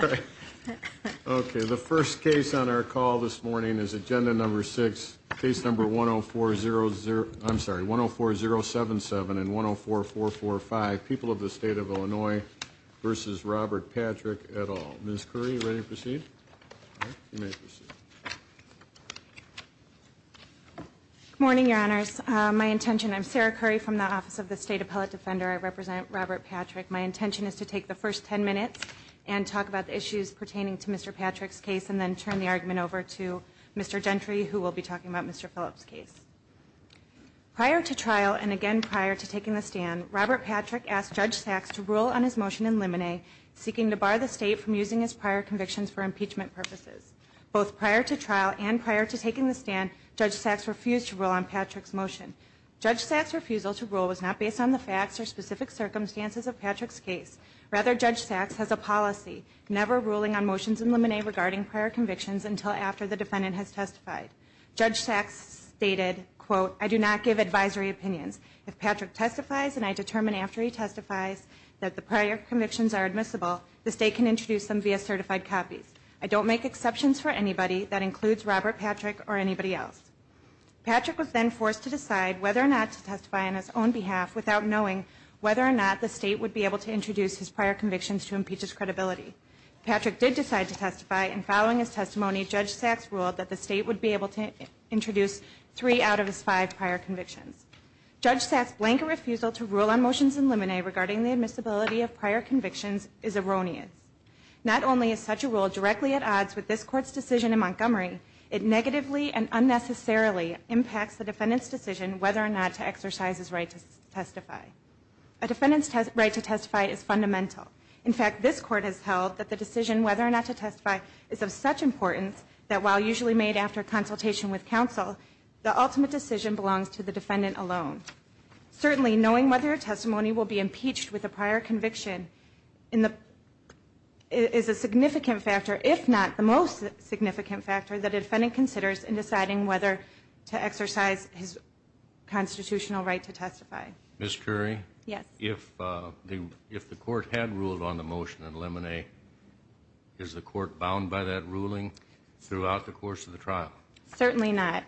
All right. Okay. The first case on our call this morning is agenda number six. Case number one oh four zero zero. I'm sorry. One oh four zero seven seven and one oh four four four five. People of the state of Illinois versus Robert Patrick at all. Ms. Curry, ready to proceed? Good morning, your honors. My intention, I'm Sarah Curry from the Office of the State Appellate Defender. I represent Robert Patrick. My intention is to take the first ten minutes and talk about the issues pertaining to Mr. Patrick's case and then turn the argument over to Mr. Gentry, who will be talking about Mr. Phillips' case. Prior to trial and again prior to taking the stand, Robert Patrick asked Judge Sachs to rule on his motion in Limine, seeking to bar the state from using his prior convictions for impeachment purposes. Both prior to trial and prior to taking the stand, Judge Sachs refused to rule on Patrick's motion. Judge Sachs' refusal to rule was not based on the facts or specific circumstances of Patrick's case. Rather, Judge Sachs has opposed Patrick's motion and is now seeking to remove Patrick's motion from the statute. Patrick's motion is a policy, never ruling on motions in Limine regarding prior convictions until after the defendant has testified. Judge Sachs stated, quote, I do not give advisory opinions. If Patrick testifies and I determine after he testifies that the prior convictions are admissible, the state can introduce them via certified copies. I don't make exceptions for anybody. That includes Robert Patrick or anybody else. Patrick was then forced to decide whether or not to testify on his own behalf without knowing whether or not the state would be able to introduce his prior convictions to impeach his credibility. Patrick did decide to testify and following his testimony, Judge Sachs ruled that the state would be able to introduce three out of his five prior convictions. Judge Sachs' blank refusal to rule on motions in Limine regarding the admissibility of prior convictions is erroneous. Not only is such a rule directly at odds with this Court's decision in Montgomery, it negatively and unnecessarily impacts the defendant's decision whether or not to exercise his right to testify. A defendant's right to testify is fundamental. In fact, this Court has held that the decision whether or not to testify is of such importance that while usually made after consultation with counsel, the ultimate decision belongs to the defendant alone. Certainly, knowing whether a testimony will be impeached with a prior conviction is a significant factor, if not the most significant factor, that a defendant considers in deciding whether to exercise his constitutional right to testify. Ms. Currie? Yes. If the Court had ruled on the motion in Limine, is the Court bound by that ruling throughout the course of the trial? Certainly not.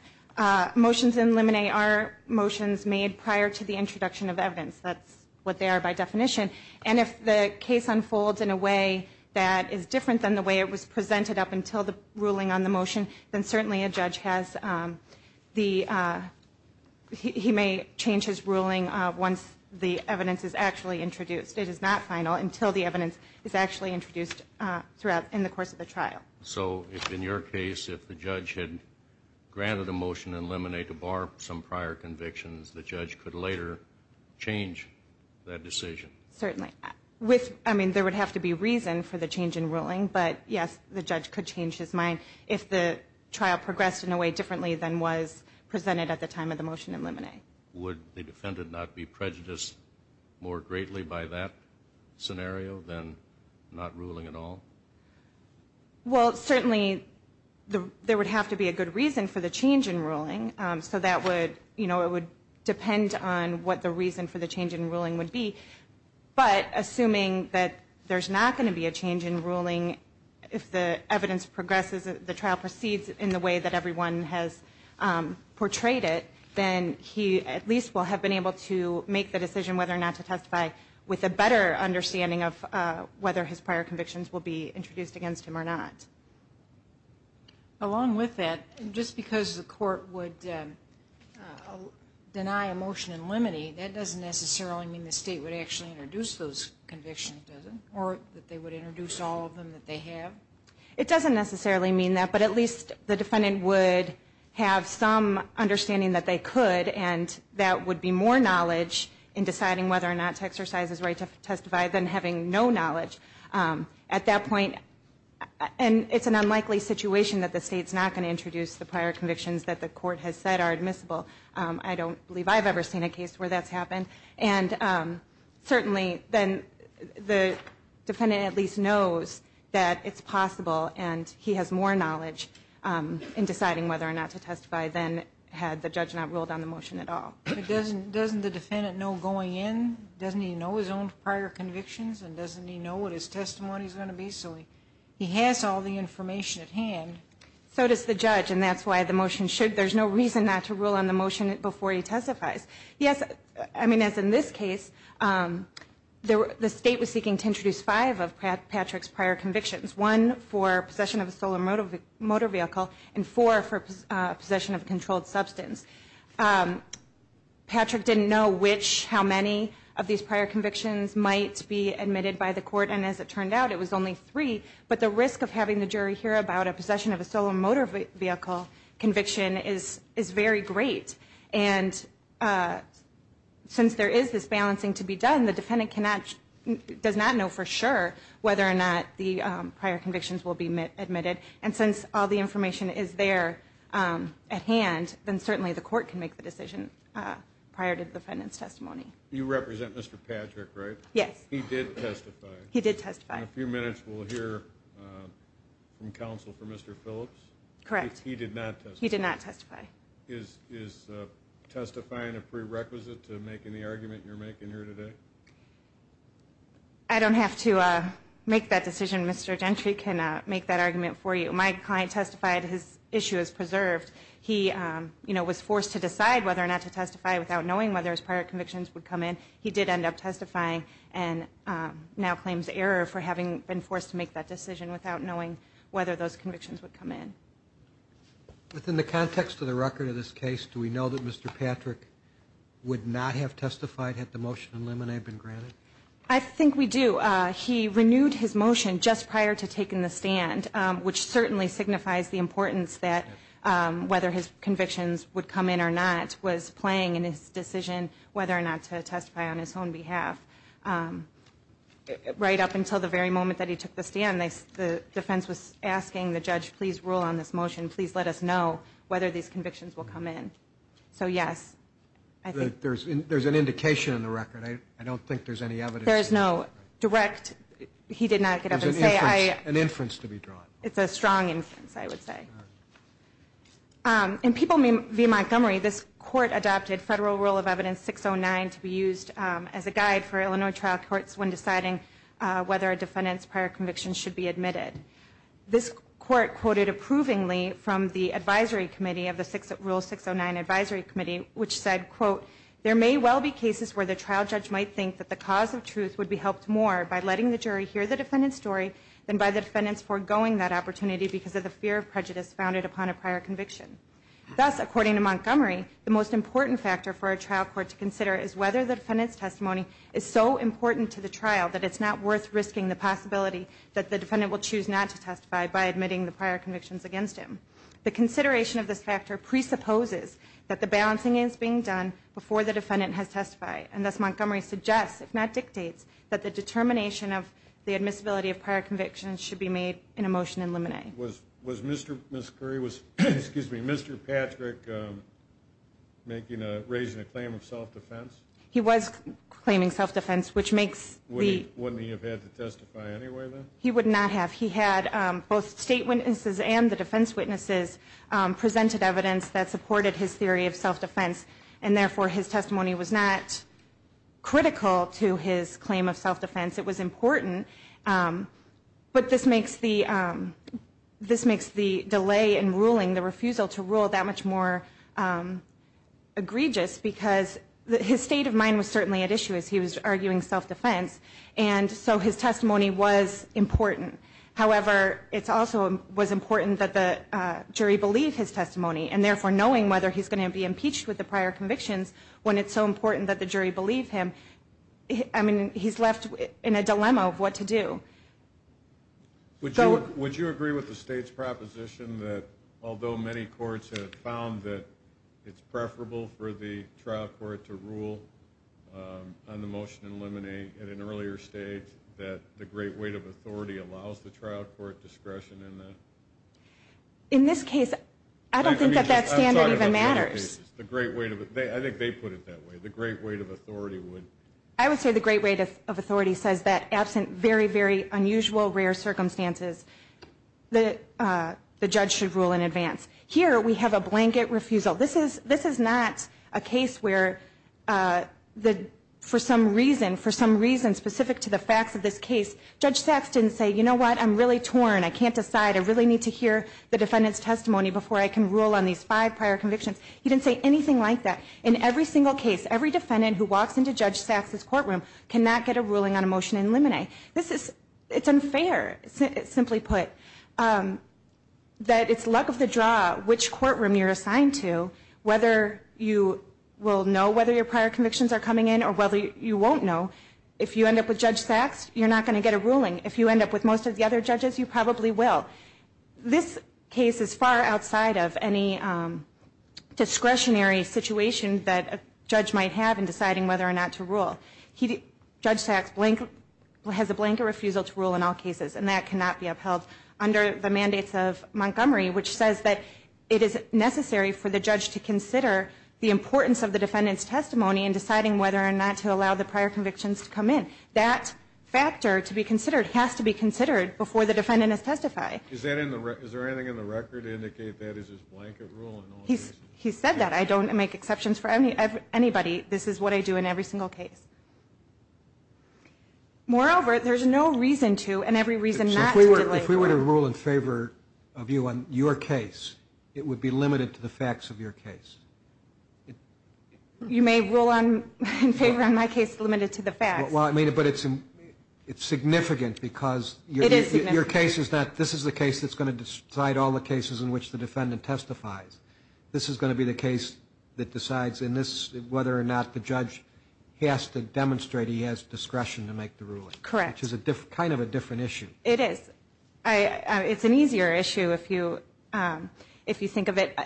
Motions in Limine are motions made prior to the introduction of evidence. That's what they are by definition. And if the case unfolds in a way that is different than the way it was presented up until the ruling on the motion, then certainly a judge has the, he may change his ruling once the evidence is actually introduced. It is not final until the evidence is actually introduced throughout, in the course of the trial. So, if in your case, if the judge had granted a motion in Limine to bar some prior convictions, the judge could later change that decision? Certainly. With, I mean, there would have to be reason for the change in ruling, but yes, the judge could change his mind if the trial progressed in a way differently than was presented at the time of the motion in Limine. Would the defendant not be prejudiced more greatly by that scenario than not ruling at all? Well, certainly there would have to be a good reason for the change in ruling. So that would, you know, it would depend on what the reason for the change in ruling would be. But assuming that there's not going to be a change in ruling, if the evidence progresses, the trial proceeds in the way that everyone has portrayed it, then he at least will have been able to make the decision whether or not to testify with a better understanding of whether his prior convictions will be introduced against him or not. Along with that, just because the court would deny a motion in Limine, that doesn't necessarily mean the state would actually introduce those convictions, does it? Or that they would introduce all of them that they have? It doesn't necessarily mean that, but at least the defendant would have some understanding that they could, and that would be more knowledge in deciding whether or not to exercise his right to testify than having no knowledge. At that point, and it's an unlikely situation that the state's not going to introduce the prior convictions that the court has said are admissible. I don't believe I've ever seen a case where that's happened. And certainly then the defendant at least knows that it's possible, and he has more knowledge in deciding whether or not to testify than had the judge not ruled on the motion at all. But doesn't the defendant know going in, doesn't he know his own prior convictions, and doesn't he know what his testimony is going to be? So he has all the information at hand. So does the judge, and that's why the motion should, there's no reason not to rule on the motion before he testifies. Yes, I mean as in this case, the state was seeking to introduce five of Patrick's prior convictions. One for possession of a solar motor vehicle, and four for possession of a controlled substance. Patrick didn't know which, how many of these prior convictions might be admitted by the court, and as it turned out, it was only three. But the risk of having the jury hear about a possession of a solar motor vehicle conviction is very great. And since there is this balancing to be done, the defendant does not know for sure whether or not the prior convictions will be admitted. And since all the information is there at hand, then certainly the court can make the decision prior to the defendant's testimony. You represent Mr. Patrick, right? Yes. He did testify. He did testify. In a few minutes we'll hear from counsel for Mr. Phillips. Correct. He did not testify. He did not testify. Is testifying a prerequisite to making the argument you're making here today? I don't have to make that decision. Mr. Gentry can make that argument for you. My client testified. His issue is preserved. He was forced to decide whether or not to testify without knowing whether his prior convictions would come in. He did end up testifying and now claims error for having been forced to make that decision without knowing whether those convictions would come in. Within the context of the record of this case, do we know that Mr. Patrick would not have testified had the motion in limine been granted? I think we do. He renewed his motion just prior to taking the stand, which certainly signifies the importance that whether his convictions would come in or not was playing in his decision whether or not to testify on his own behalf. Right up until the very moment that he took the stand, the defense was asking the judge, please rule on this motion. Please let us know whether these convictions will come in. So, yes. There's an indication in the record. I don't think there's any evidence. There is no direct. He did not get up and say. There's an inference to be drawn. It's a strong inference, I would say. In People v. Montgomery, this court adopted Federal Rule of Evidence 609 to be used as a guide for Illinois trial courts when deciding whether a defendant's prior conviction should be admitted. This court quoted approvingly from the advisory committee of the Rule 609 Advisory Committee, which said, quote, There may well be cases where the trial judge might think that the cause of truth would be helped more by letting the jury hear the defendant's story than by the defendant's forgoing that opportunity because of the fear of prejudice founded upon a prior conviction. Thus, according to Montgomery, the most important factor for a trial court to consider is whether the defendant's testimony is so important to the trial that it's not worth risking the possibility that the defendant will choose not to testify by admitting the prior convictions against him. The consideration of this factor presupposes that the balancing is being done before the defendant has testified. And thus, Montgomery suggests, if not dictates, that the determination of the admissibility of prior convictions should be made in a motion in limine. Was Mr. Patrick raising a claim of self-defense? He was claiming self-defense. Wouldn't he have had to testify anyway, then? He would not have. He had both state witnesses and the defense witnesses presented evidence that supported his theory of self-defense. And therefore, his testimony was not critical to his claim of self-defense. It was important. But this makes the delay in ruling, the refusal to rule, that much more egregious because his state of mind was certainly at issue as he was arguing self-defense. And so his testimony was important. However, it also was important that the jury believe his testimony. And therefore, knowing whether he's going to be impeached with the prior convictions when it's so important that the jury believe him, I mean, he's left in a dilemma of what to do. Would you agree with the state's proposition that, although many courts have found that it's preferable for the trial court to rule on the motion in limine at an earlier stage, that the great weight of authority allows the trial court discretion in that? In this case, I don't think that that standard even matters. I think they put it that way, the great weight of authority would. I would say the great weight of authority says that absent very, very unusual, rare circumstances, the judge should rule in advance. Here, we have a blanket refusal. This is not a case where for some reason, specific to the facts of this case, Judge Sachs didn't say, you know what, I'm really torn, I can't decide, I really need to hear the defendant's testimony before I can rule on these five prior convictions. He didn't say anything like that. In every single case, every defendant who walks into Judge Sachs' courtroom cannot get a ruling on a motion in limine. This is, it's unfair, simply put, that it's luck of the draw which courtroom you're assigned to, whether you will know whether your prior convictions are coming in or whether you won't know. If you end up with Judge Sachs, you're not going to get a ruling. If you end up with most of the other judges, you probably will. This case is far outside of any discretionary situation that a judge might have in deciding whether or not to rule. Judge Sachs has a blanket refusal to rule in all cases, and that cannot be upheld under the mandates of Montgomery, which says that it is necessary for the judge to consider the importance of the defendant's testimony in deciding whether or not to allow the prior convictions to come in. That factor to be considered has to be considered before the defendant is testified. Is there anything in the record to indicate that is his blanket rule in all cases? He said that. I don't make exceptions for anybody. This is what I do in every single case. Moreover, there's no reason to and every reason not to delay a ruling. If we were to rule in favor of you on your case, it would be limited to the facts of your case. You may rule in favor of my case limited to the facts. But it's significant because your case is that this is the case that's going to decide all the cases in which the defendant testifies. This is going to be the case that decides whether or not the judge has to demonstrate he has discretion to make the ruling. Correct. Which is kind of a different issue. It is. It's an easier issue if you think of it.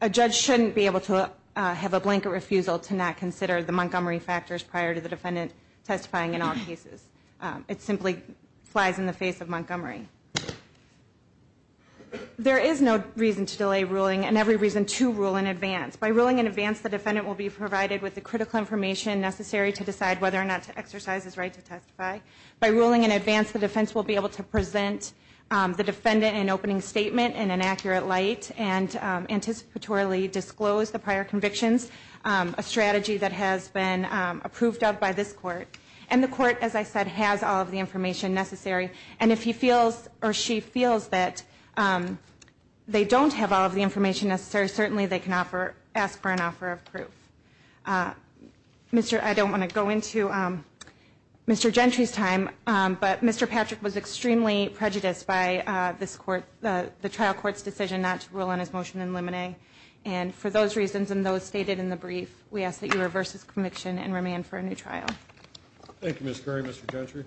A judge shouldn't be able to have a blanket refusal to not consider the Montgomery factors prior to the defendant testifying in all cases. It simply flies in the face of Montgomery. There is no reason to delay ruling and every reason to rule in advance. By ruling in advance, the defendant will be provided with the critical information necessary to decide whether or not to exercise his right to testify. By ruling in advance, the defense will be able to present the defendant an opening statement in an accurate light and anticipatorily disclose the prior convictions, a strategy that has been approved of by this court. And the court, as I said, has all of the information necessary. And if he feels or she feels that they don't have all of the information necessary, certainly they can ask for an offer of proof. I don't want to go into Mr. Gentry's time, but Mr. Patrick was extremely prejudiced by the trial court's decision not to rule on his motion in limine. And for those reasons and those stated in the brief, we ask that you reverse his conviction and remand for a new trial. Thank you, Ms. Curry. Mr. Gentry.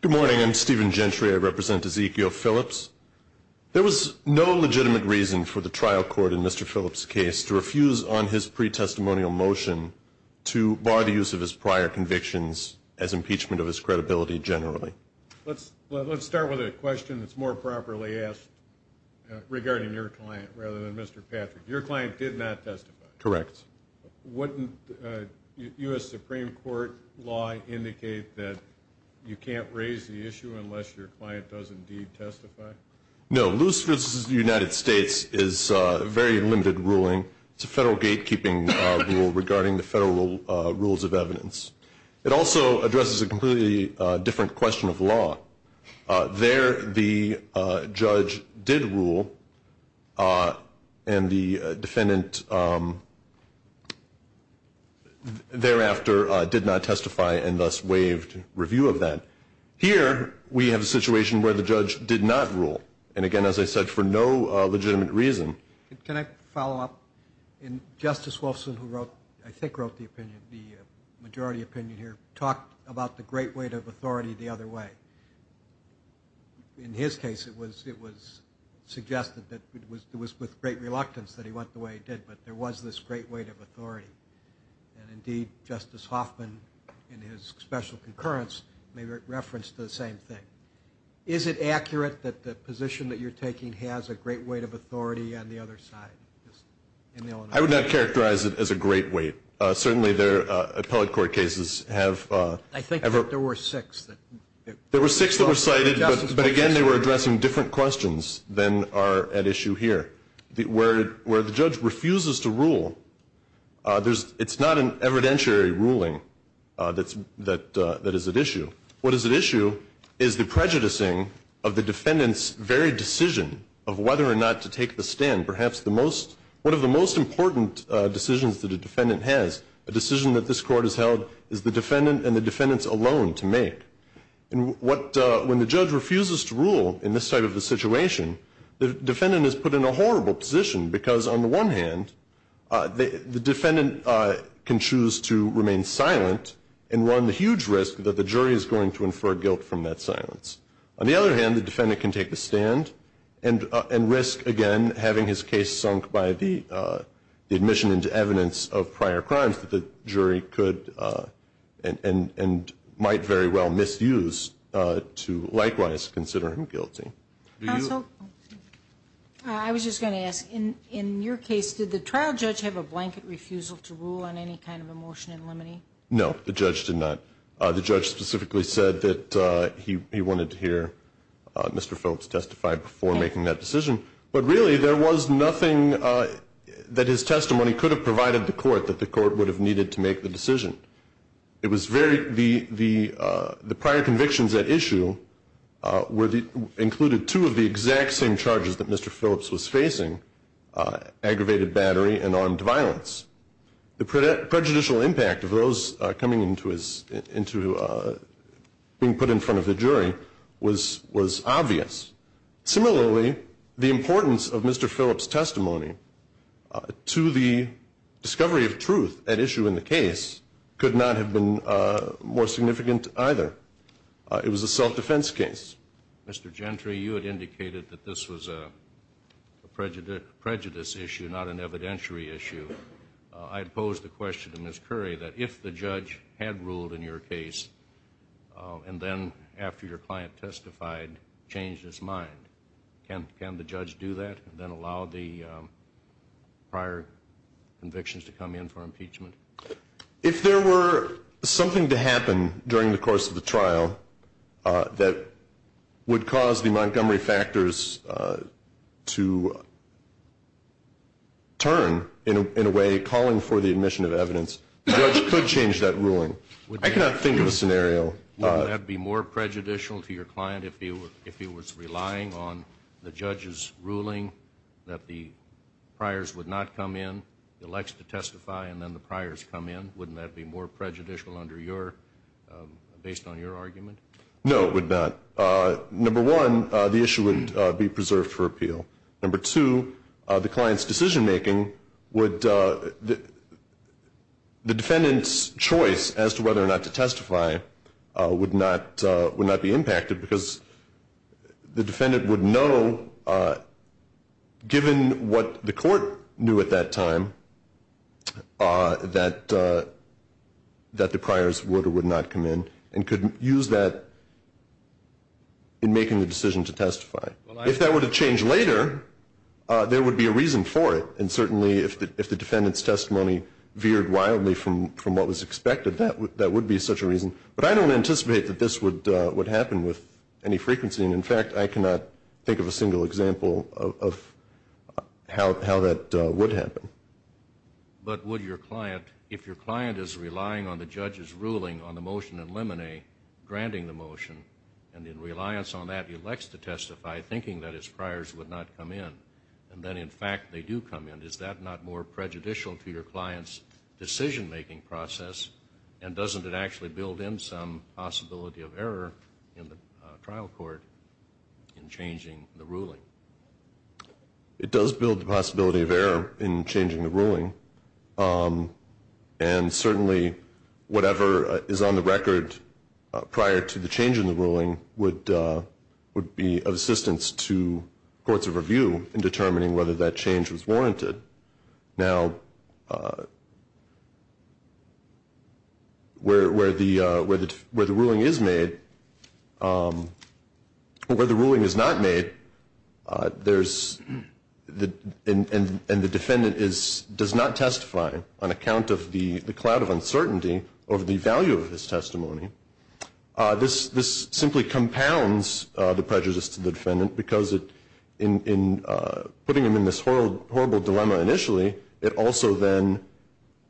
Good morning. I'm Stephen Gentry. I represent Ezekiel Phillips. There was no legitimate reason for the trial court in Mr. Phillips' case to refuse on his pre-testimonial motion to bar the use of his prior convictions as impeachment of his credibility generally. Let's start with a question that's more properly asked regarding your client rather than Mr. Patrick. Your client did not testify. Correct. Wouldn't U.S. Supreme Court law indicate that you can't raise the issue unless your client does indeed testify? No. Lewis v. United States is a very limited ruling. It's a federal gatekeeping rule regarding the federal rules of evidence. There the judge did rule, and the defendant thereafter did not testify and thus waived review of that. Here we have a situation where the judge did not rule, and again, as I said, for no legitimate reason. Can I follow up? Justice Wolfson, who I think wrote the opinion, the majority opinion here, talked about the great weight of authority the other way. In his case, it was suggested that it was with great reluctance that he went the way he did, but there was this great weight of authority. Indeed, Justice Hoffman in his special concurrence made reference to the same thing. Is it accurate that the position that you're taking has a great weight of authority on the other side? I would not characterize it as a great weight. Certainly, there are appellate court cases. I think that there were six. There were six that were cited, but again, they were addressing different questions than are at issue here. Where the judge refuses to rule, it's not an evidentiary ruling that is at issue. What is at issue is the prejudicing of the defendant's very decision of whether or not to take the stand. Perhaps one of the most important decisions that a defendant has, a decision that this Court has held, is the defendant and the defendants alone to make. When the judge refuses to rule in this type of a situation, the defendant is put in a horrible position because, on the one hand, the defendant can choose to remain silent and run the huge risk that the jury is going to infer guilt from that silence. On the other hand, the defendant can take the stand and risk, again, having his case sunk by the admission into evidence of prior crimes that the jury could and might very well misuse to likewise consider him guilty. Counsel? I was just going to ask, in your case, did the trial judge have a blanket refusal to rule on any kind of a motion in limine? No, the judge did not. The judge specifically said that he wanted to hear Mr. Phillips testify before making that decision. But really, there was nothing that his testimony could have provided the Court that the Court would have needed to make the decision. The prior convictions at issue included two of the exact same charges that Mr. Phillips was facing, aggravated battery and armed violence. The prejudicial impact of those coming into being put in front of the jury was obvious. Similarly, the importance of Mr. Phillips' testimony to the discovery of truth at issue in the case could not have been more significant either. It was a self-defense case. Mr. Gentry, you had indicated that this was a prejudice issue, not an evidentiary issue. I pose the question to Ms. Curry that if the judge had ruled in your case and then after your client testified changed his mind, can the judge do that and then allow the prior convictions to come in for impeachment? If there were something to happen during the course of the trial that would cause the Montgomery factors to turn in a way calling for the admission of evidence, the judge could change that ruling. I cannot think of a scenario. Wouldn't that be more prejudicial to your client if he was relying on the judge's ruling that the priors would not come in? He elects to testify and then the priors come in. Wouldn't that be more prejudicial based on your argument? No, it would not. Number one, the issue would be preserved for appeal. Number two, the defendant's choice as to whether or not to testify would not be impacted because the defendant would know given what the court knew at that time that the priors would or would not come in and could use that in making the decision to testify. If that would have changed later, there would be a reason for it. And certainly if the defendant's testimony veered wildly from what was expected, that would be such a reason. But I don't anticipate that this would happen with any frequency. And, in fact, I cannot think of a single example of how that would happen. But would your client, if your client is relying on the judge's ruling on the motion in limine, granting the motion, and in reliance on that he elects to testify thinking that his priors would not come in, and then in fact they do come in, is that not more prejudicial to your client's decision-making process and doesn't it actually build in some possibility of error in the trial court in changing the ruling? It does build the possibility of error in changing the ruling. And certainly whatever is on the record prior to the change in the ruling would be of assistance to courts of review in determining whether that change was warranted. Now, where the ruling is not made and the defendant does not testify on account of the cloud of uncertainty over the value of his testimony, this simply compounds the prejudice to the defendant because in putting him in this horrible dilemma initially, it also then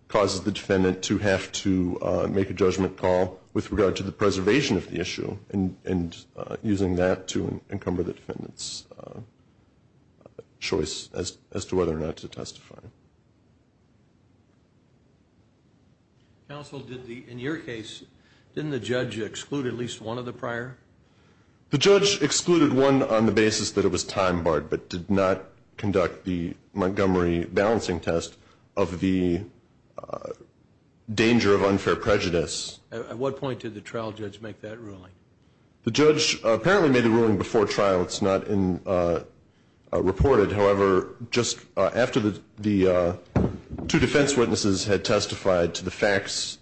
causes the defendant to have to make a judgment call with regard to the preservation of the issue and using that to encumber the defendant's choice as to whether or not to testify. Counsel, in your case, didn't the judge exclude at least one of the prior? The judge excluded one on the basis that it was time barred but did not conduct the Montgomery balancing test of the danger of unfair prejudice. At what point did the trial judge make that ruling? The judge apparently made the ruling before trial. It's not reported. However, just after the two defense witnesses had testified to the facts,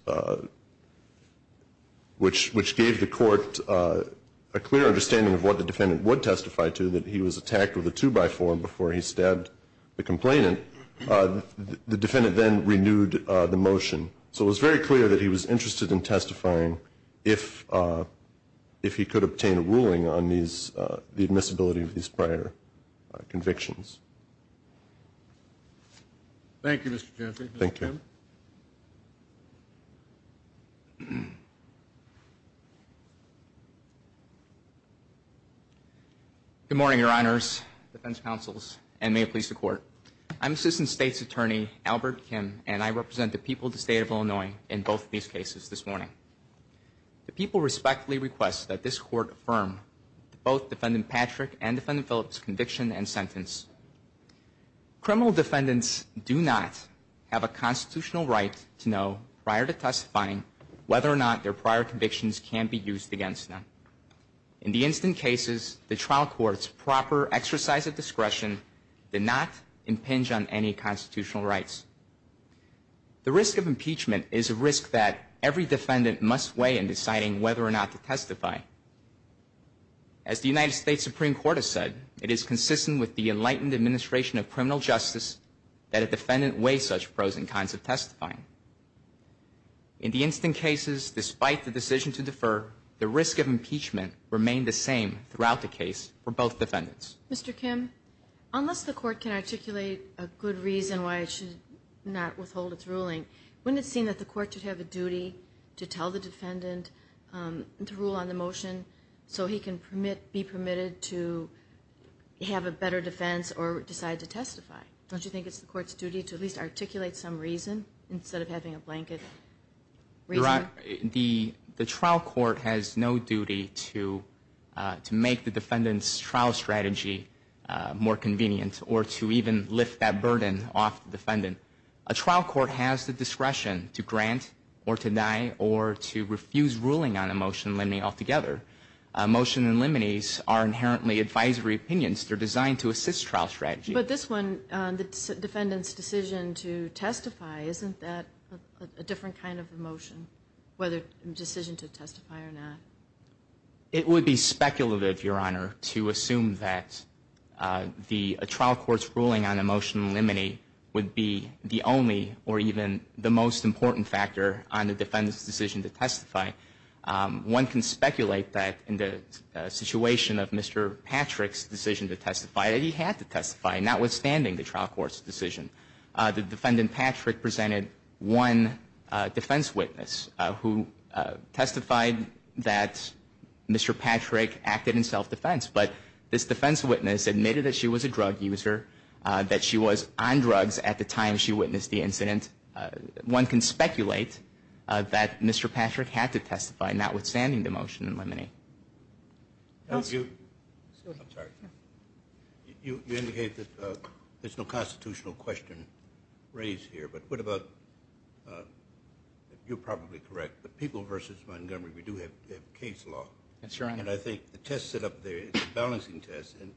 which gave the court a clear understanding of what the defendant would testify to, that he was attacked with a two-by-four before he stabbed the complainant, the defendant then renewed the motion. So it was very clear that he was interested in testifying if he could obtain a ruling on the admissibility of these prior convictions. Thank you, Mr. Gentry. Thank you. Good morning, Your Honors, defense counsels, and may it please the Court. I'm Assistant State's Attorney Albert Kim, and I represent the people of the state of Illinois in both of these cases this morning. The people respectfully request that this Court affirm both Defendant Patrick and Defendant Phillips' conviction and sentence. Criminal defendants do not have a constitutional right to know prior to testifying whether or not their prior convictions can be used against them. In the instant cases, the trial court's proper exercise of discretion did not impinge on any constitutional rights. The risk of impeachment is a risk that every defendant must weigh in deciding whether or not to testify. As the United States Supreme Court has said, it is consistent with the enlightened administration of criminal justice that a defendant weigh such pros and cons of testifying. In the instant cases, despite the decision to defer, the risk of impeachment remained the same throughout the case for both defendants. Mr. Kim, unless the Court can articulate a good reason why it should not withhold its ruling, wouldn't it seem that the Court should have a duty to tell the defendant to rule on the motion so he can be permitted to have a better defense or decide to testify? Don't you think it's the Court's duty to at least articulate some reason instead of having a blanket reason? The trial court has no duty to make the defendant's trial strategy more convenient or to even lift that burden off the defendant. A trial court has the discretion to grant or to deny or to refuse ruling on a motion limiting altogether. Motion and liminees are inherently advisory opinions. They're designed to assist trial strategy. But this one, the defendant's decision to testify, isn't that a different kind of a motion, whether a decision to testify or not? It would be speculative, Your Honor, to assume that a trial court's ruling on a motion and liminee would be the only or even the most important factor on the defendant's decision to testify. One can speculate that in the situation of Mr. Patrick's decision to testify that he had to testify, notwithstanding the trial court's decision. The defendant, Patrick, presented one defense witness who testified that Mr. Patrick acted in self-defense. But this defense witness admitted that she was a drug user, that she was on drugs at the time she witnessed the incident. One can speculate that Mr. Patrick had to testify, notwithstanding the motion and liminee. Counsel? I'm sorry. You indicated that there's no constitutional question raised here, but what about, you're probably correct, but people versus Montgomery, we do have case law. That's right. And I think the test set up there is a balancing test, and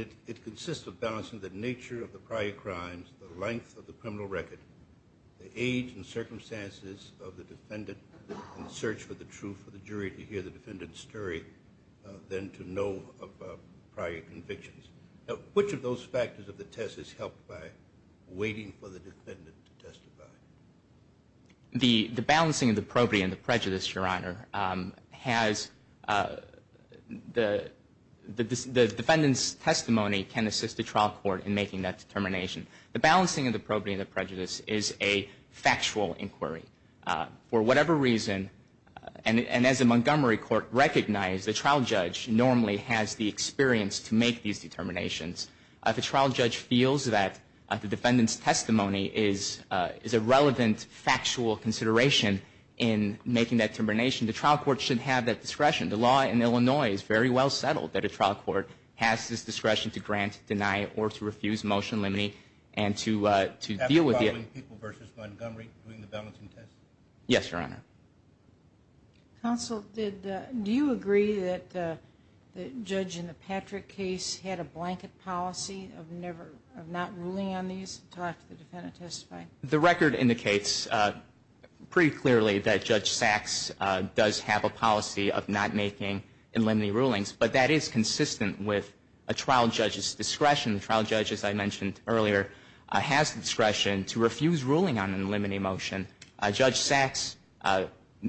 it consists of balancing the nature of the prior crimes, the length of the criminal record, the age and circumstances of the defendant, and the search for the truth for the jury to hear the defendant's story than to know of prior convictions. Which of those factors of the test is helped by waiting for the defendant to testify? The balancing of the probity and the prejudice, Your Honor, has the defendant's testimony can assist the trial court in making that determination. The balancing of the probity and the prejudice is a factual inquiry. For whatever reason, and as a Montgomery court recognized, the trial judge normally has the experience to make these determinations. If a trial judge feels that the defendant's testimony is a relevant, factual consideration in making that determination, the trial court should have that discretion. The law in Illinois is very well settled that a trial court has this discretion to grant, deny, or to refuse motion liminee and to deal with it. Are you ruling people versus Montgomery during the balancing test? Yes, Your Honor. Counsel, do you agree that the judge in the Patrick case had a blanket policy of not ruling on these until after the defendant testified? The record indicates pretty clearly that Judge Sachs does have a policy of not making liminee rulings, but that is consistent with a trial judge's discretion. The trial judge, as I mentioned earlier, has the discretion to refuse ruling on a liminee motion. Judge Sachs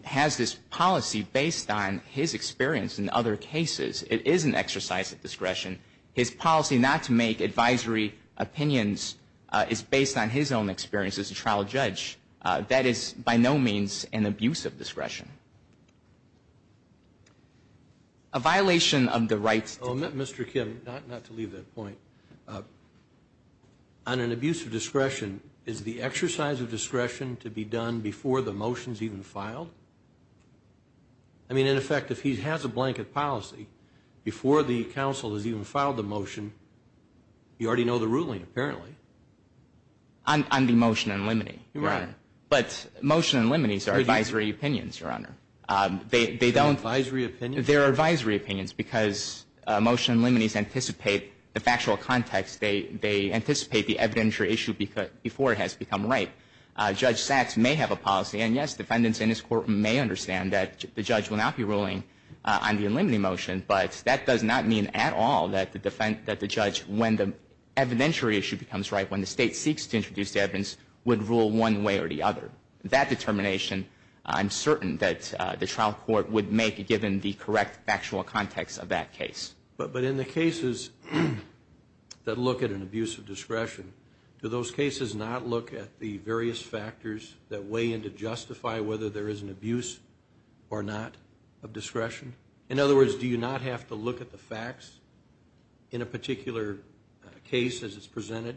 has this policy based on his experience in other cases. It is an exercise of discretion. His policy not to make advisory opinions is based on his own experience as a trial judge. A violation of the rights to... Mr. Kim, not to leave that point, on an abuse of discretion, is the exercise of discretion to be done before the motion is even filed? I mean, in effect, if he has a blanket policy before the counsel has even filed the motion, you already know the ruling apparently. On the motion and liminee, Your Honor. Right. But motion and liminees are advisory opinions, Your Honor. They don't... They're advisory opinions? They're advisory opinions because motion and liminees anticipate the factual context. They anticipate the evidentiary issue before it has become right. Judge Sachs may have a policy. And, yes, defendants in his court may understand that the judge will not be ruling on the liminee motion, but that does not mean at all that the judge, when the evidentiary issue becomes right, when the State seeks to introduce the evidence, would rule one way or the other. That determination I'm certain that the trial court would make, given the correct factual context of that case. But in the cases that look at an abuse of discretion, do those cases not look at the various factors that weigh in to justify whether there is an abuse or not of discretion? In other words, do you not have to look at the facts in a particular case as it's presented?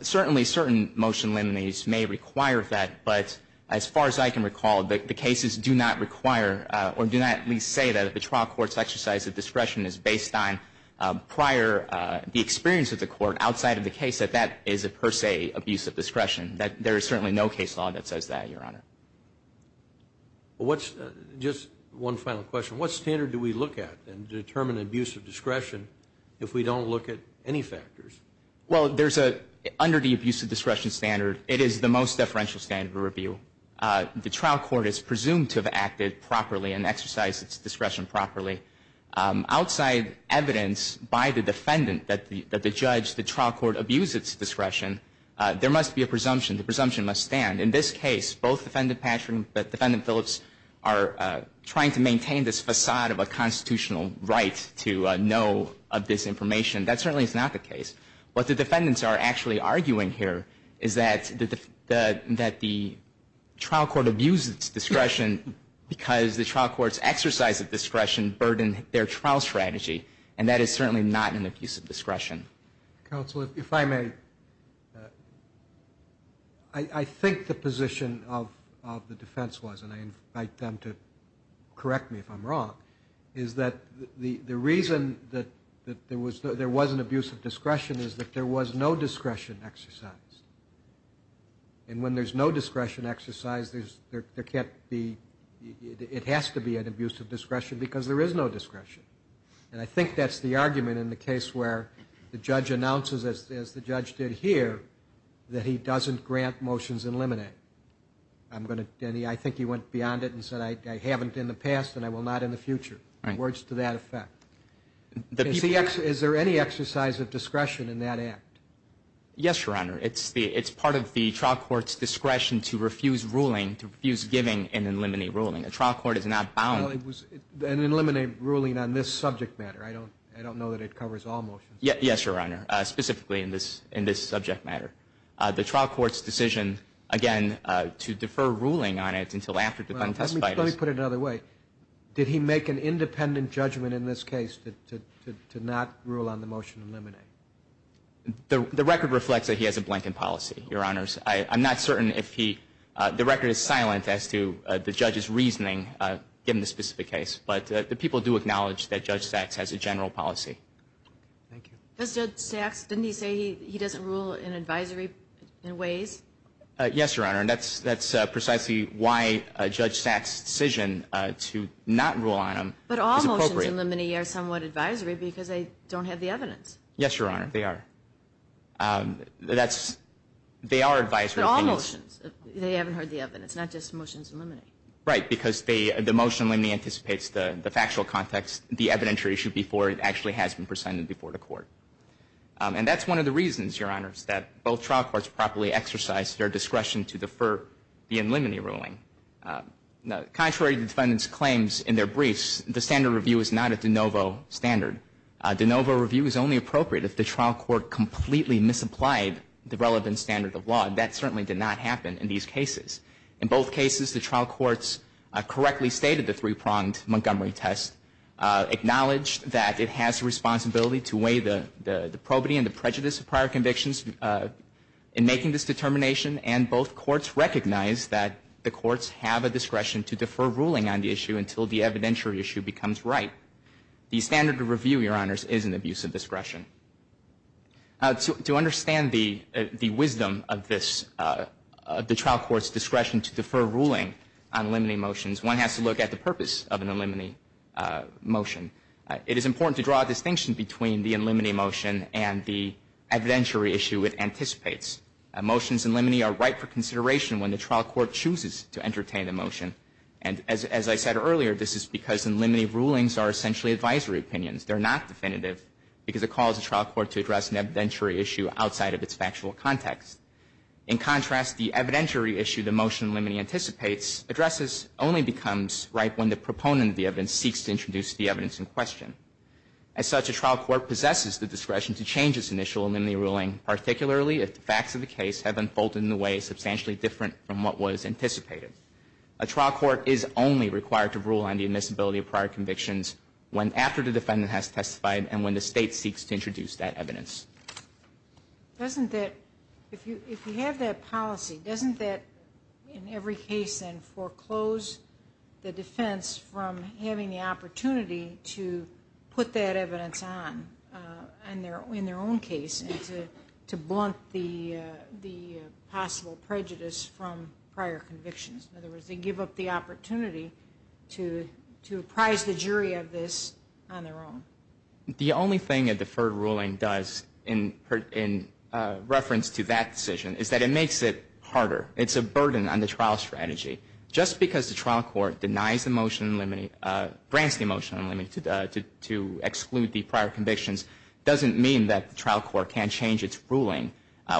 Certainly, certain motion and liminees may require that. But as far as I can recall, the cases do not require or do not at least say that the trial court's exercise of discretion is based on prior experience of the court outside of the case that that is, per se, abuse of discretion. There is certainly no case law that says that, Your Honor. Just one final question. What standard do we look at to determine abuse of discretion if we don't look at any factors? Well, under the abuse of discretion standard, it is the most differential standard of review. The trial court is presumed to have acted properly and exercised its discretion properly. Outside evidence by the defendant that the judge, the trial court, abused its discretion, there must be a presumption. The presumption must stand. In this case, both Defendant Patrick and Defendant Phillips are trying to maintain this facade of a constitutional right to know of this information. That certainly is not the case. What the defendants are actually arguing here is that the trial court abused its discretion because the trial court's exercise of discretion burdened their trial strategy, and that is certainly not an abuse of discretion. Counsel, if I may, I think the position of the defense was, and I invite them to correct me if I'm wrong, is that the reason that there was an abuse of discretion is that there was no discretion exercised. And when there's no discretion exercised, there can't be, it has to be an abuse of discretion because there is no discretion. And I think that's the argument in the case where the judge announces, as the judge did here, that he doesn't grant motions in limine. I think he went beyond it and said, I haven't in the past and I will not in the future. Words to that effect. Is there any exercise of discretion in that act? Yes, Your Honor. It's part of the trial court's discretion to refuse ruling, to refuse giving and eliminate ruling. A trial court is not bound. Well, it was an eliminate ruling on this subject matter. I don't know that it covers all motions. Yes, Your Honor, specifically in this subject matter. The trial court's decision, again, to defer ruling on it until after the defendant testifies. Let me put it another way. Did he make an independent judgment in this case to not rule on the motion in limine? The record reflects that he has a blanket policy, Your Honors. I'm not certain if he, the record is silent as to the judge's reasoning in this specific case. But the people do acknowledge that Judge Sachs has a general policy. Thank you. Judge Sachs, didn't he say he doesn't rule in advisory ways? Yes, Your Honor, and that's precisely why Judge Sachs' decision to not rule on him is appropriate. But all motions in limine are somewhat advisory because they don't have the evidence. Yes, Your Honor, they are. They are advisory. But all motions, they haven't heard the evidence, not just motions in limine. Right, because the motion in limine anticipates the factual context, the evidentiary issue before it actually has been presented before the court. And that's one of the reasons, Your Honors, that both trial courts properly exercise their discretion to defer the eliminate ruling. Contrary to the defendant's claims in their briefs, the standard review is not a de novo standard. A de novo review is only appropriate if the trial court completely misapplied the relevant standard of law, and that certainly did not happen in these cases. In both cases, the trial courts correctly stated the three-pronged Montgomery test, acknowledged that it has a responsibility to weigh the probity and the prejudice of prior convictions in making this determination, and both courts recognized that the courts have a discretion to defer ruling on the issue until the evidentiary issue becomes right. The standard of review, Your Honors, is an abuse of discretion. To understand the wisdom of this, of the trial court's discretion to defer ruling on limine motions, one has to look at the purpose of an eliminate motion. It is important to draw a distinction between the eliminate motion and the evidentiary issue it anticipates. Motions in limine are right for consideration when the trial court chooses to entertain the motion. And as I said earlier, this is because eliminate rulings are essentially advisory opinions. They're not definitive because it calls the trial court to address an evidentiary issue outside of its factual context. In contrast, the evidentiary issue the motion eliminate anticipates addresses only becomes right when the proponent of the evidence seeks to introduce the evidence in question. As such, a trial court possesses the discretion to change its initial eliminate ruling, particularly if the facts of the case have unfolded in a way substantially different from what was anticipated. A trial court is only required to rule on the admissibility of prior convictions after the defendant has testified and when the state seeks to introduce that evidence. If you have that policy, doesn't that, in every case, foreclose the defense from having the opportunity to put that evidence on in their own case and to blunt the possible prejudice from prior convictions? In other words, they give up the opportunity to apprise the jury of this on their own. The only thing a deferred ruling does in reference to that decision is that it makes it harder. It's a burden on the trial strategy. Just because the trial court denies the motion in limine, grants the motion in limine to exclude the prior convictions, doesn't mean that the trial court can't change its ruling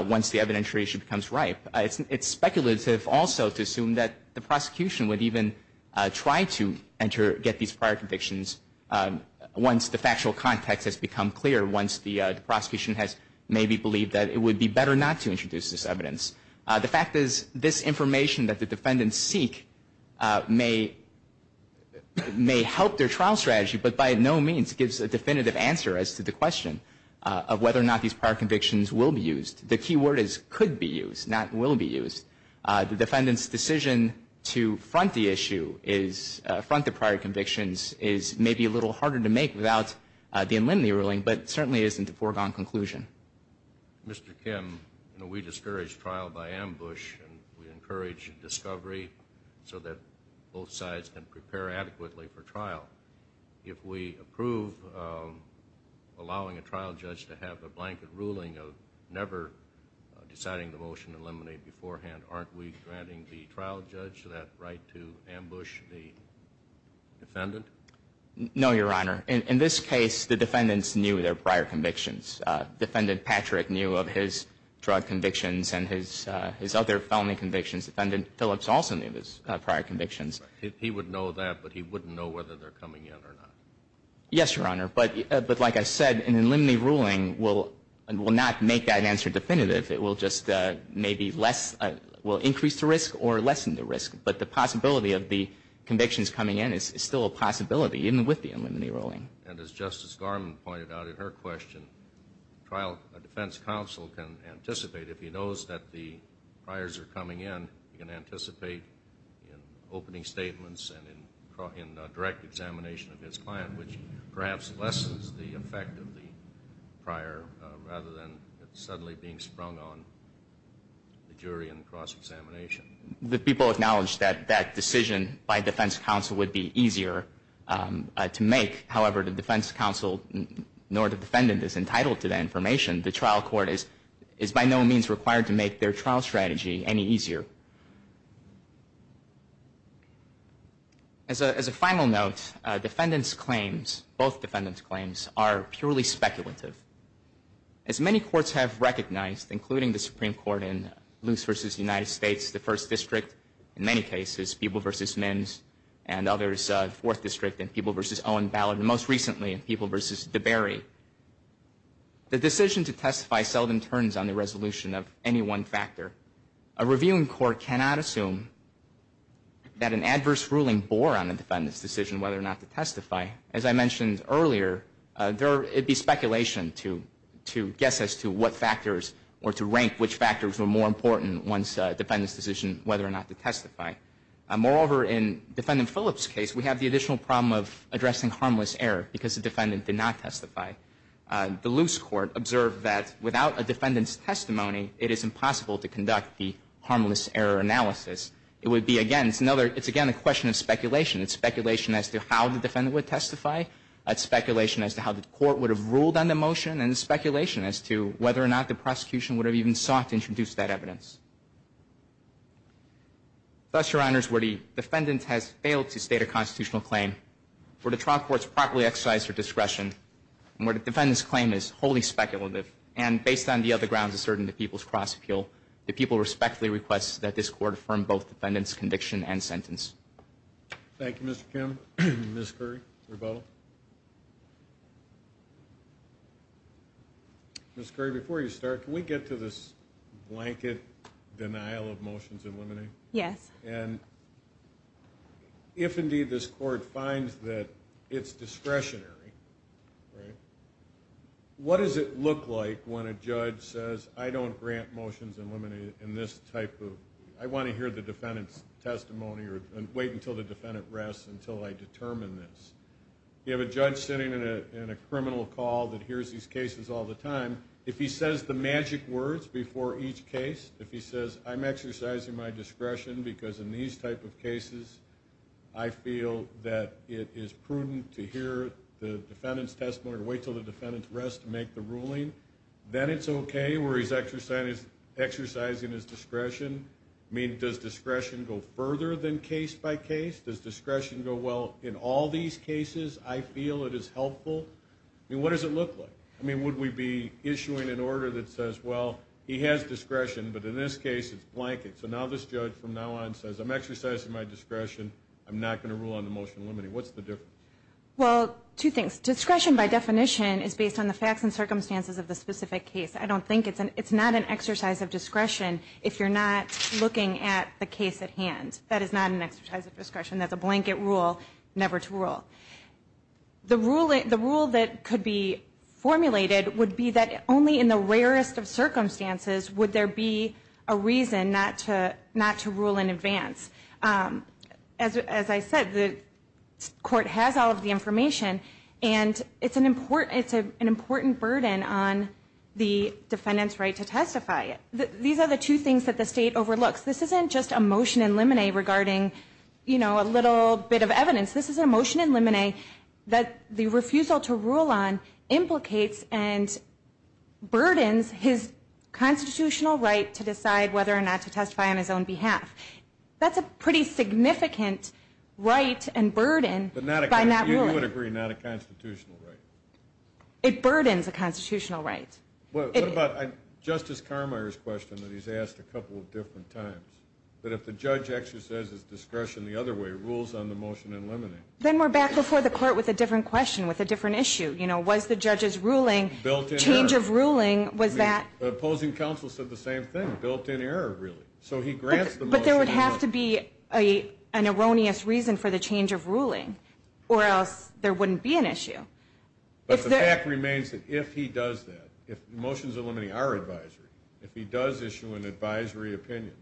once the evidentiary issue becomes ripe. It's speculative also to assume that the prosecution would even try to get these prior convictions once the factual context has become clear, once the prosecution has maybe believed that it would be better not to introduce this evidence. The fact is this information that the defendants seek may help their trial strategy, but by no means gives a definitive answer as to the question of whether or not these prior convictions will be used. The key word is could be used, not will be used. The defendants' decision to front the issue, front the prior convictions, is maybe a little harder to make without the in limine ruling, but certainly isn't a foregone conclusion. Mr. Kim, we discourage trial by ambush, and we encourage discovery so that both sides can prepare adequately for trial. If we approve allowing a trial judge to have a blanket ruling of never deciding the motion in limine beforehand, aren't we granting the trial judge that right to ambush the defendant? No, Your Honor. In this case, the defendants knew their prior convictions. Defendant Patrick knew of his drug convictions and his other felony convictions. Defendant Phillips also knew his prior convictions. He would know that, but he wouldn't know whether they're coming in or not. Yes, Your Honor. But like I said, an in limine ruling will not make that answer definitive. It will just maybe less, will increase the risk or lessen the risk. But the possibility of the convictions coming in is still a possibility, even with the in limine ruling. And as Justice Garmon pointed out in her question, a defense counsel can anticipate, if he knows that the priors are coming in, he can anticipate in opening statements and in direct examination of his client, which perhaps lessens the effect of the prior rather than it suddenly being sprung on the jury in cross-examination. The people acknowledged that that decision by defense counsel would be easier to make. However, the defense counsel nor the defendant is entitled to that information. The trial court is by no means required to make their trial strategy any easier. As a final note, defendants' claims, both defendants' claims, are purely speculative. As many courts have recognized, including the Supreme Court in Luce v. United States, the First District, in many cases, Peeble v. Mims, and others, Fourth District, and Peeble v. Owen Ballard, and most recently, Peeble v. DeBerry, the decision to testify seldom turns on the resolution of any one factor. A reviewing court cannot assume that an adverse ruling bore on the defendant's decision whether or not to testify. As I mentioned earlier, it would be speculation to guess as to what factors or to rank which factors were more important once a defendant's decision whether or not to testify. Moreover, in Defendant Phillips' case, we have the additional problem of addressing harmless error because the defendant did not testify. The Luce court observed that without a defendant's testimony, it is impossible to conduct the harmless error analysis. It's speculation. It's speculation as to how the defendant would testify. It's speculation as to how the court would have ruled on the motion, and it's speculation as to whether or not the prosecution would have even sought to introduce that evidence. Thus, Your Honors, where the defendant has failed to state a constitutional claim, where the trial court has properly exercised her discretion, and where the defendant's claim is wholly speculative, and based on the other grounds asserted in the Peeble's cross-appeal, the people respectfully request that this court affirm both defendant's conviction and sentence. Thank you, Mr. Kim. Ms. Curry, your vote. Ms. Curry, before you start, can we get to this blanket denial of motions eliminated? Yes. And if, indeed, this court finds that it's discretionary, right, what does it look like when a judge says, I don't grant motions eliminated in this type of, I want to hear the defendant's testimony or wait until the defendant rests until I determine this? You have a judge sitting in a criminal call that hears these cases all the time. If he says the magic words before each case, if he says, I'm exercising my discretion because in these type of cases, I feel that it is prudent to hear the defendant's testimony or wait until the defendant rests to make the ruling, then it's okay where he's exercising his discretion. I mean, does discretion go further than case by case? Does discretion go, well, in all these cases, I feel it is helpful? I mean, what does it look like? I mean, would we be issuing an order that says, well, he has discretion, but in this case, it's blanket. So now this judge, from now on, says, I'm exercising my discretion. I'm not going to rule on the motion eliminating. What's the difference? Well, two things. Discretion, by definition, is based on the facts and circumstances of the specific case. I don't think it's an exercise of discretion if you're not looking at the case at hand. That is not an exercise of discretion. That's a blanket rule never to rule. The rule that could be formulated would be that only in the rarest of circumstances would there be a reason not to rule in advance. As I said, the court has all of the information, and it's an important burden on the defendant's right to testify. These are the two things that the state overlooks. This isn't just a motion in limine regarding, you know, a little bit of evidence. This is a motion in limine that the refusal to rule on implicates and burdens his constitutional right to decide whether or not to testify on his own behalf. That's a pretty significant right and burden by not ruling. You would agree, not a constitutional right. It burdens a constitutional right. What about Justice Carmier's question that he's asked a couple of different times, that if the judge exercises discretion the other way, rules on the motion in limine? Then we're back before the court with a different question, with a different issue. You know, was the judge's ruling, change of ruling, was that? The opposing counsel said the same thing, built-in error, really. So he grants the motion. But there would have to be an erroneous reason for the change of ruling, or else there wouldn't be an issue. But the fact remains that if he does that, if motions in limine are advisory, if he does issue an advisory opinion,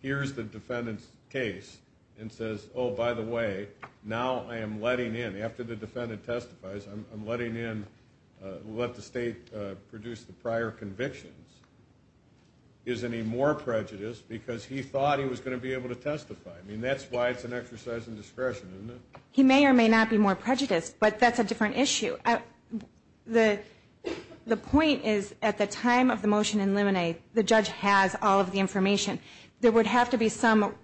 hears the defendant's case and says, oh, by the way, now I am letting in, after the defendant testifies, I'm letting in, let the state produce the prior convictions, isn't he more prejudiced because he thought he was going to be able to testify? I mean, that's why it's an exercise in discretion, isn't it? He may or may not be more prejudiced, but that's a different issue. The point is, at the time of the motion in limine, the judge has all of the information. There would have to be some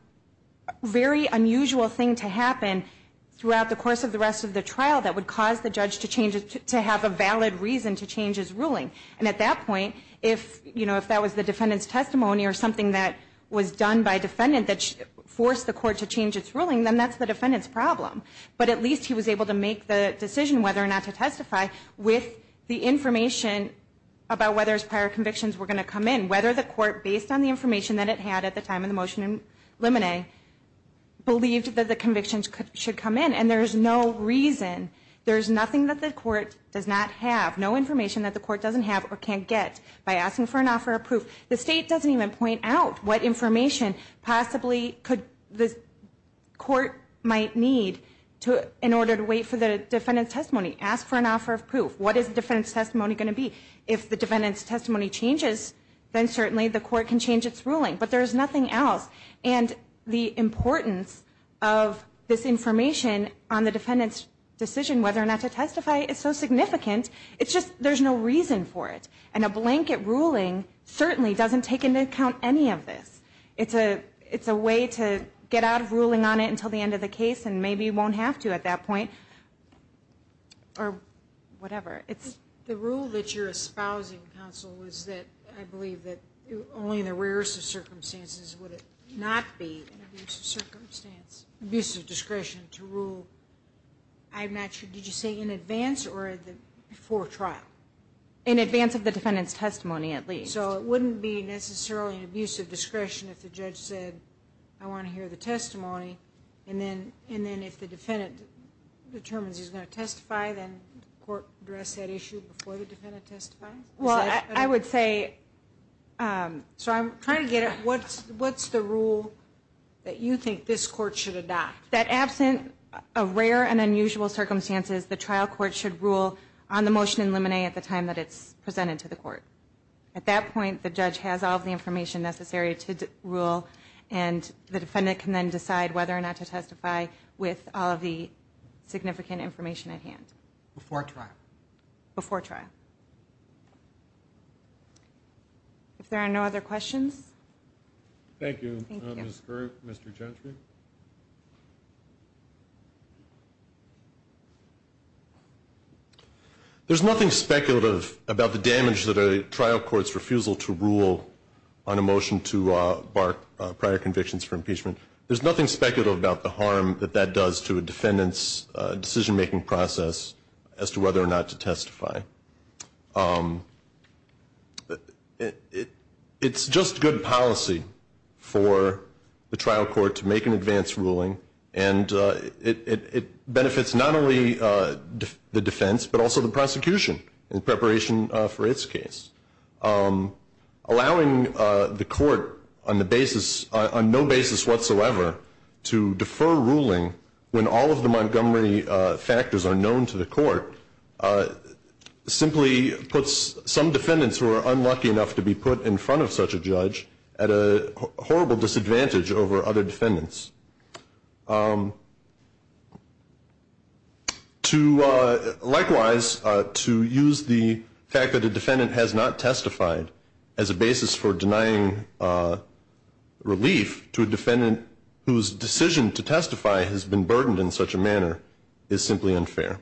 very unusual thing to happen throughout the course of the rest of the trial that would cause the judge to have a valid reason to change his ruling. And at that point, if that was the defendant's testimony or something that was done by a defendant that forced the court to change its ruling, then that's the defendant's problem. But at least he was able to make the decision whether or not to testify with the information about whether his prior convictions were going to come in, whether the court, based on the information that it had at the time of the motion in limine, believed that the convictions should come in. And there's no reason, there's nothing that the court does not have, no information that the court doesn't have or can't get by asking for an offer of proof. The state doesn't even point out what information possibly the court might need in order to wait for the defendant's testimony. Ask for an offer of proof. What is the defendant's testimony going to be? If the defendant's testimony changes, then certainly the court can change its ruling. But there's nothing else. And the importance of this information on the defendant's decision whether or not to testify is so significant, it's just there's no reason for it. And a blanket ruling certainly doesn't take into account any of this. It's a way to get out of ruling on it until the end of the case and maybe you won't have to at that point or whatever. The rule that you're espousing, counsel, is that I believe that only in the rarest of circumstances would it not be an abuse of discretion to rule. I'm not sure, did you say in advance or before trial? In advance of the defendant's testimony, at least. So it wouldn't be necessarily an abuse of discretion if the judge said, I want to hear the testimony, and then if the defendant determines he's going to testify, then the court would address that issue before the defendant testifies? Well, I would say, so I'm trying to get at what's the rule that you think this court should adopt? That absent of rare and unusual circumstances, the trial court should rule on the motion in limine at the time that it's presented to the court. At that point, the judge has all of the information necessary to rule and the defendant can then decide whether or not to testify with all of the significant information at hand. Before trial? Before trial. If there are no other questions? Thank you, Ms. Girt, Mr. Chantry. There's nothing speculative about the damage that a trial court's refusal to rule on a motion to bar prior convictions for impeachment. There's nothing speculative about the harm that that does to a defendant's decision-making process as to whether or not to testify. It's just good policy for the trial court to make an advance ruling, and it benefits not only the defense, but also the prosecution in preparation for its case. Allowing the court on the basis, on no basis whatsoever, to defer ruling when all of the Montgomery factors are known to the court, simply puts some defendants who are unlucky enough to be put in front of such a judge at a horrible disadvantage over other defendants. Likewise, to use the fact that a defendant has not testified as a basis for denying relief to a defendant whose decision to testify has been burdened in such a manner is simply unfair.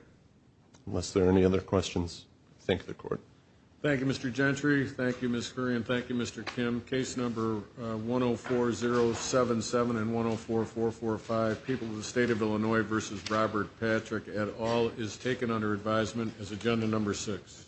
Unless there are any other questions, I thank the court. Thank you, Mr. Chantry. Thank you, Ms. Girt, and thank you, Mr. Kim. Case number 104077 and 104445, People of the State of Illinois v. Robert Patrick et al. is taken under advisement as agenda number six.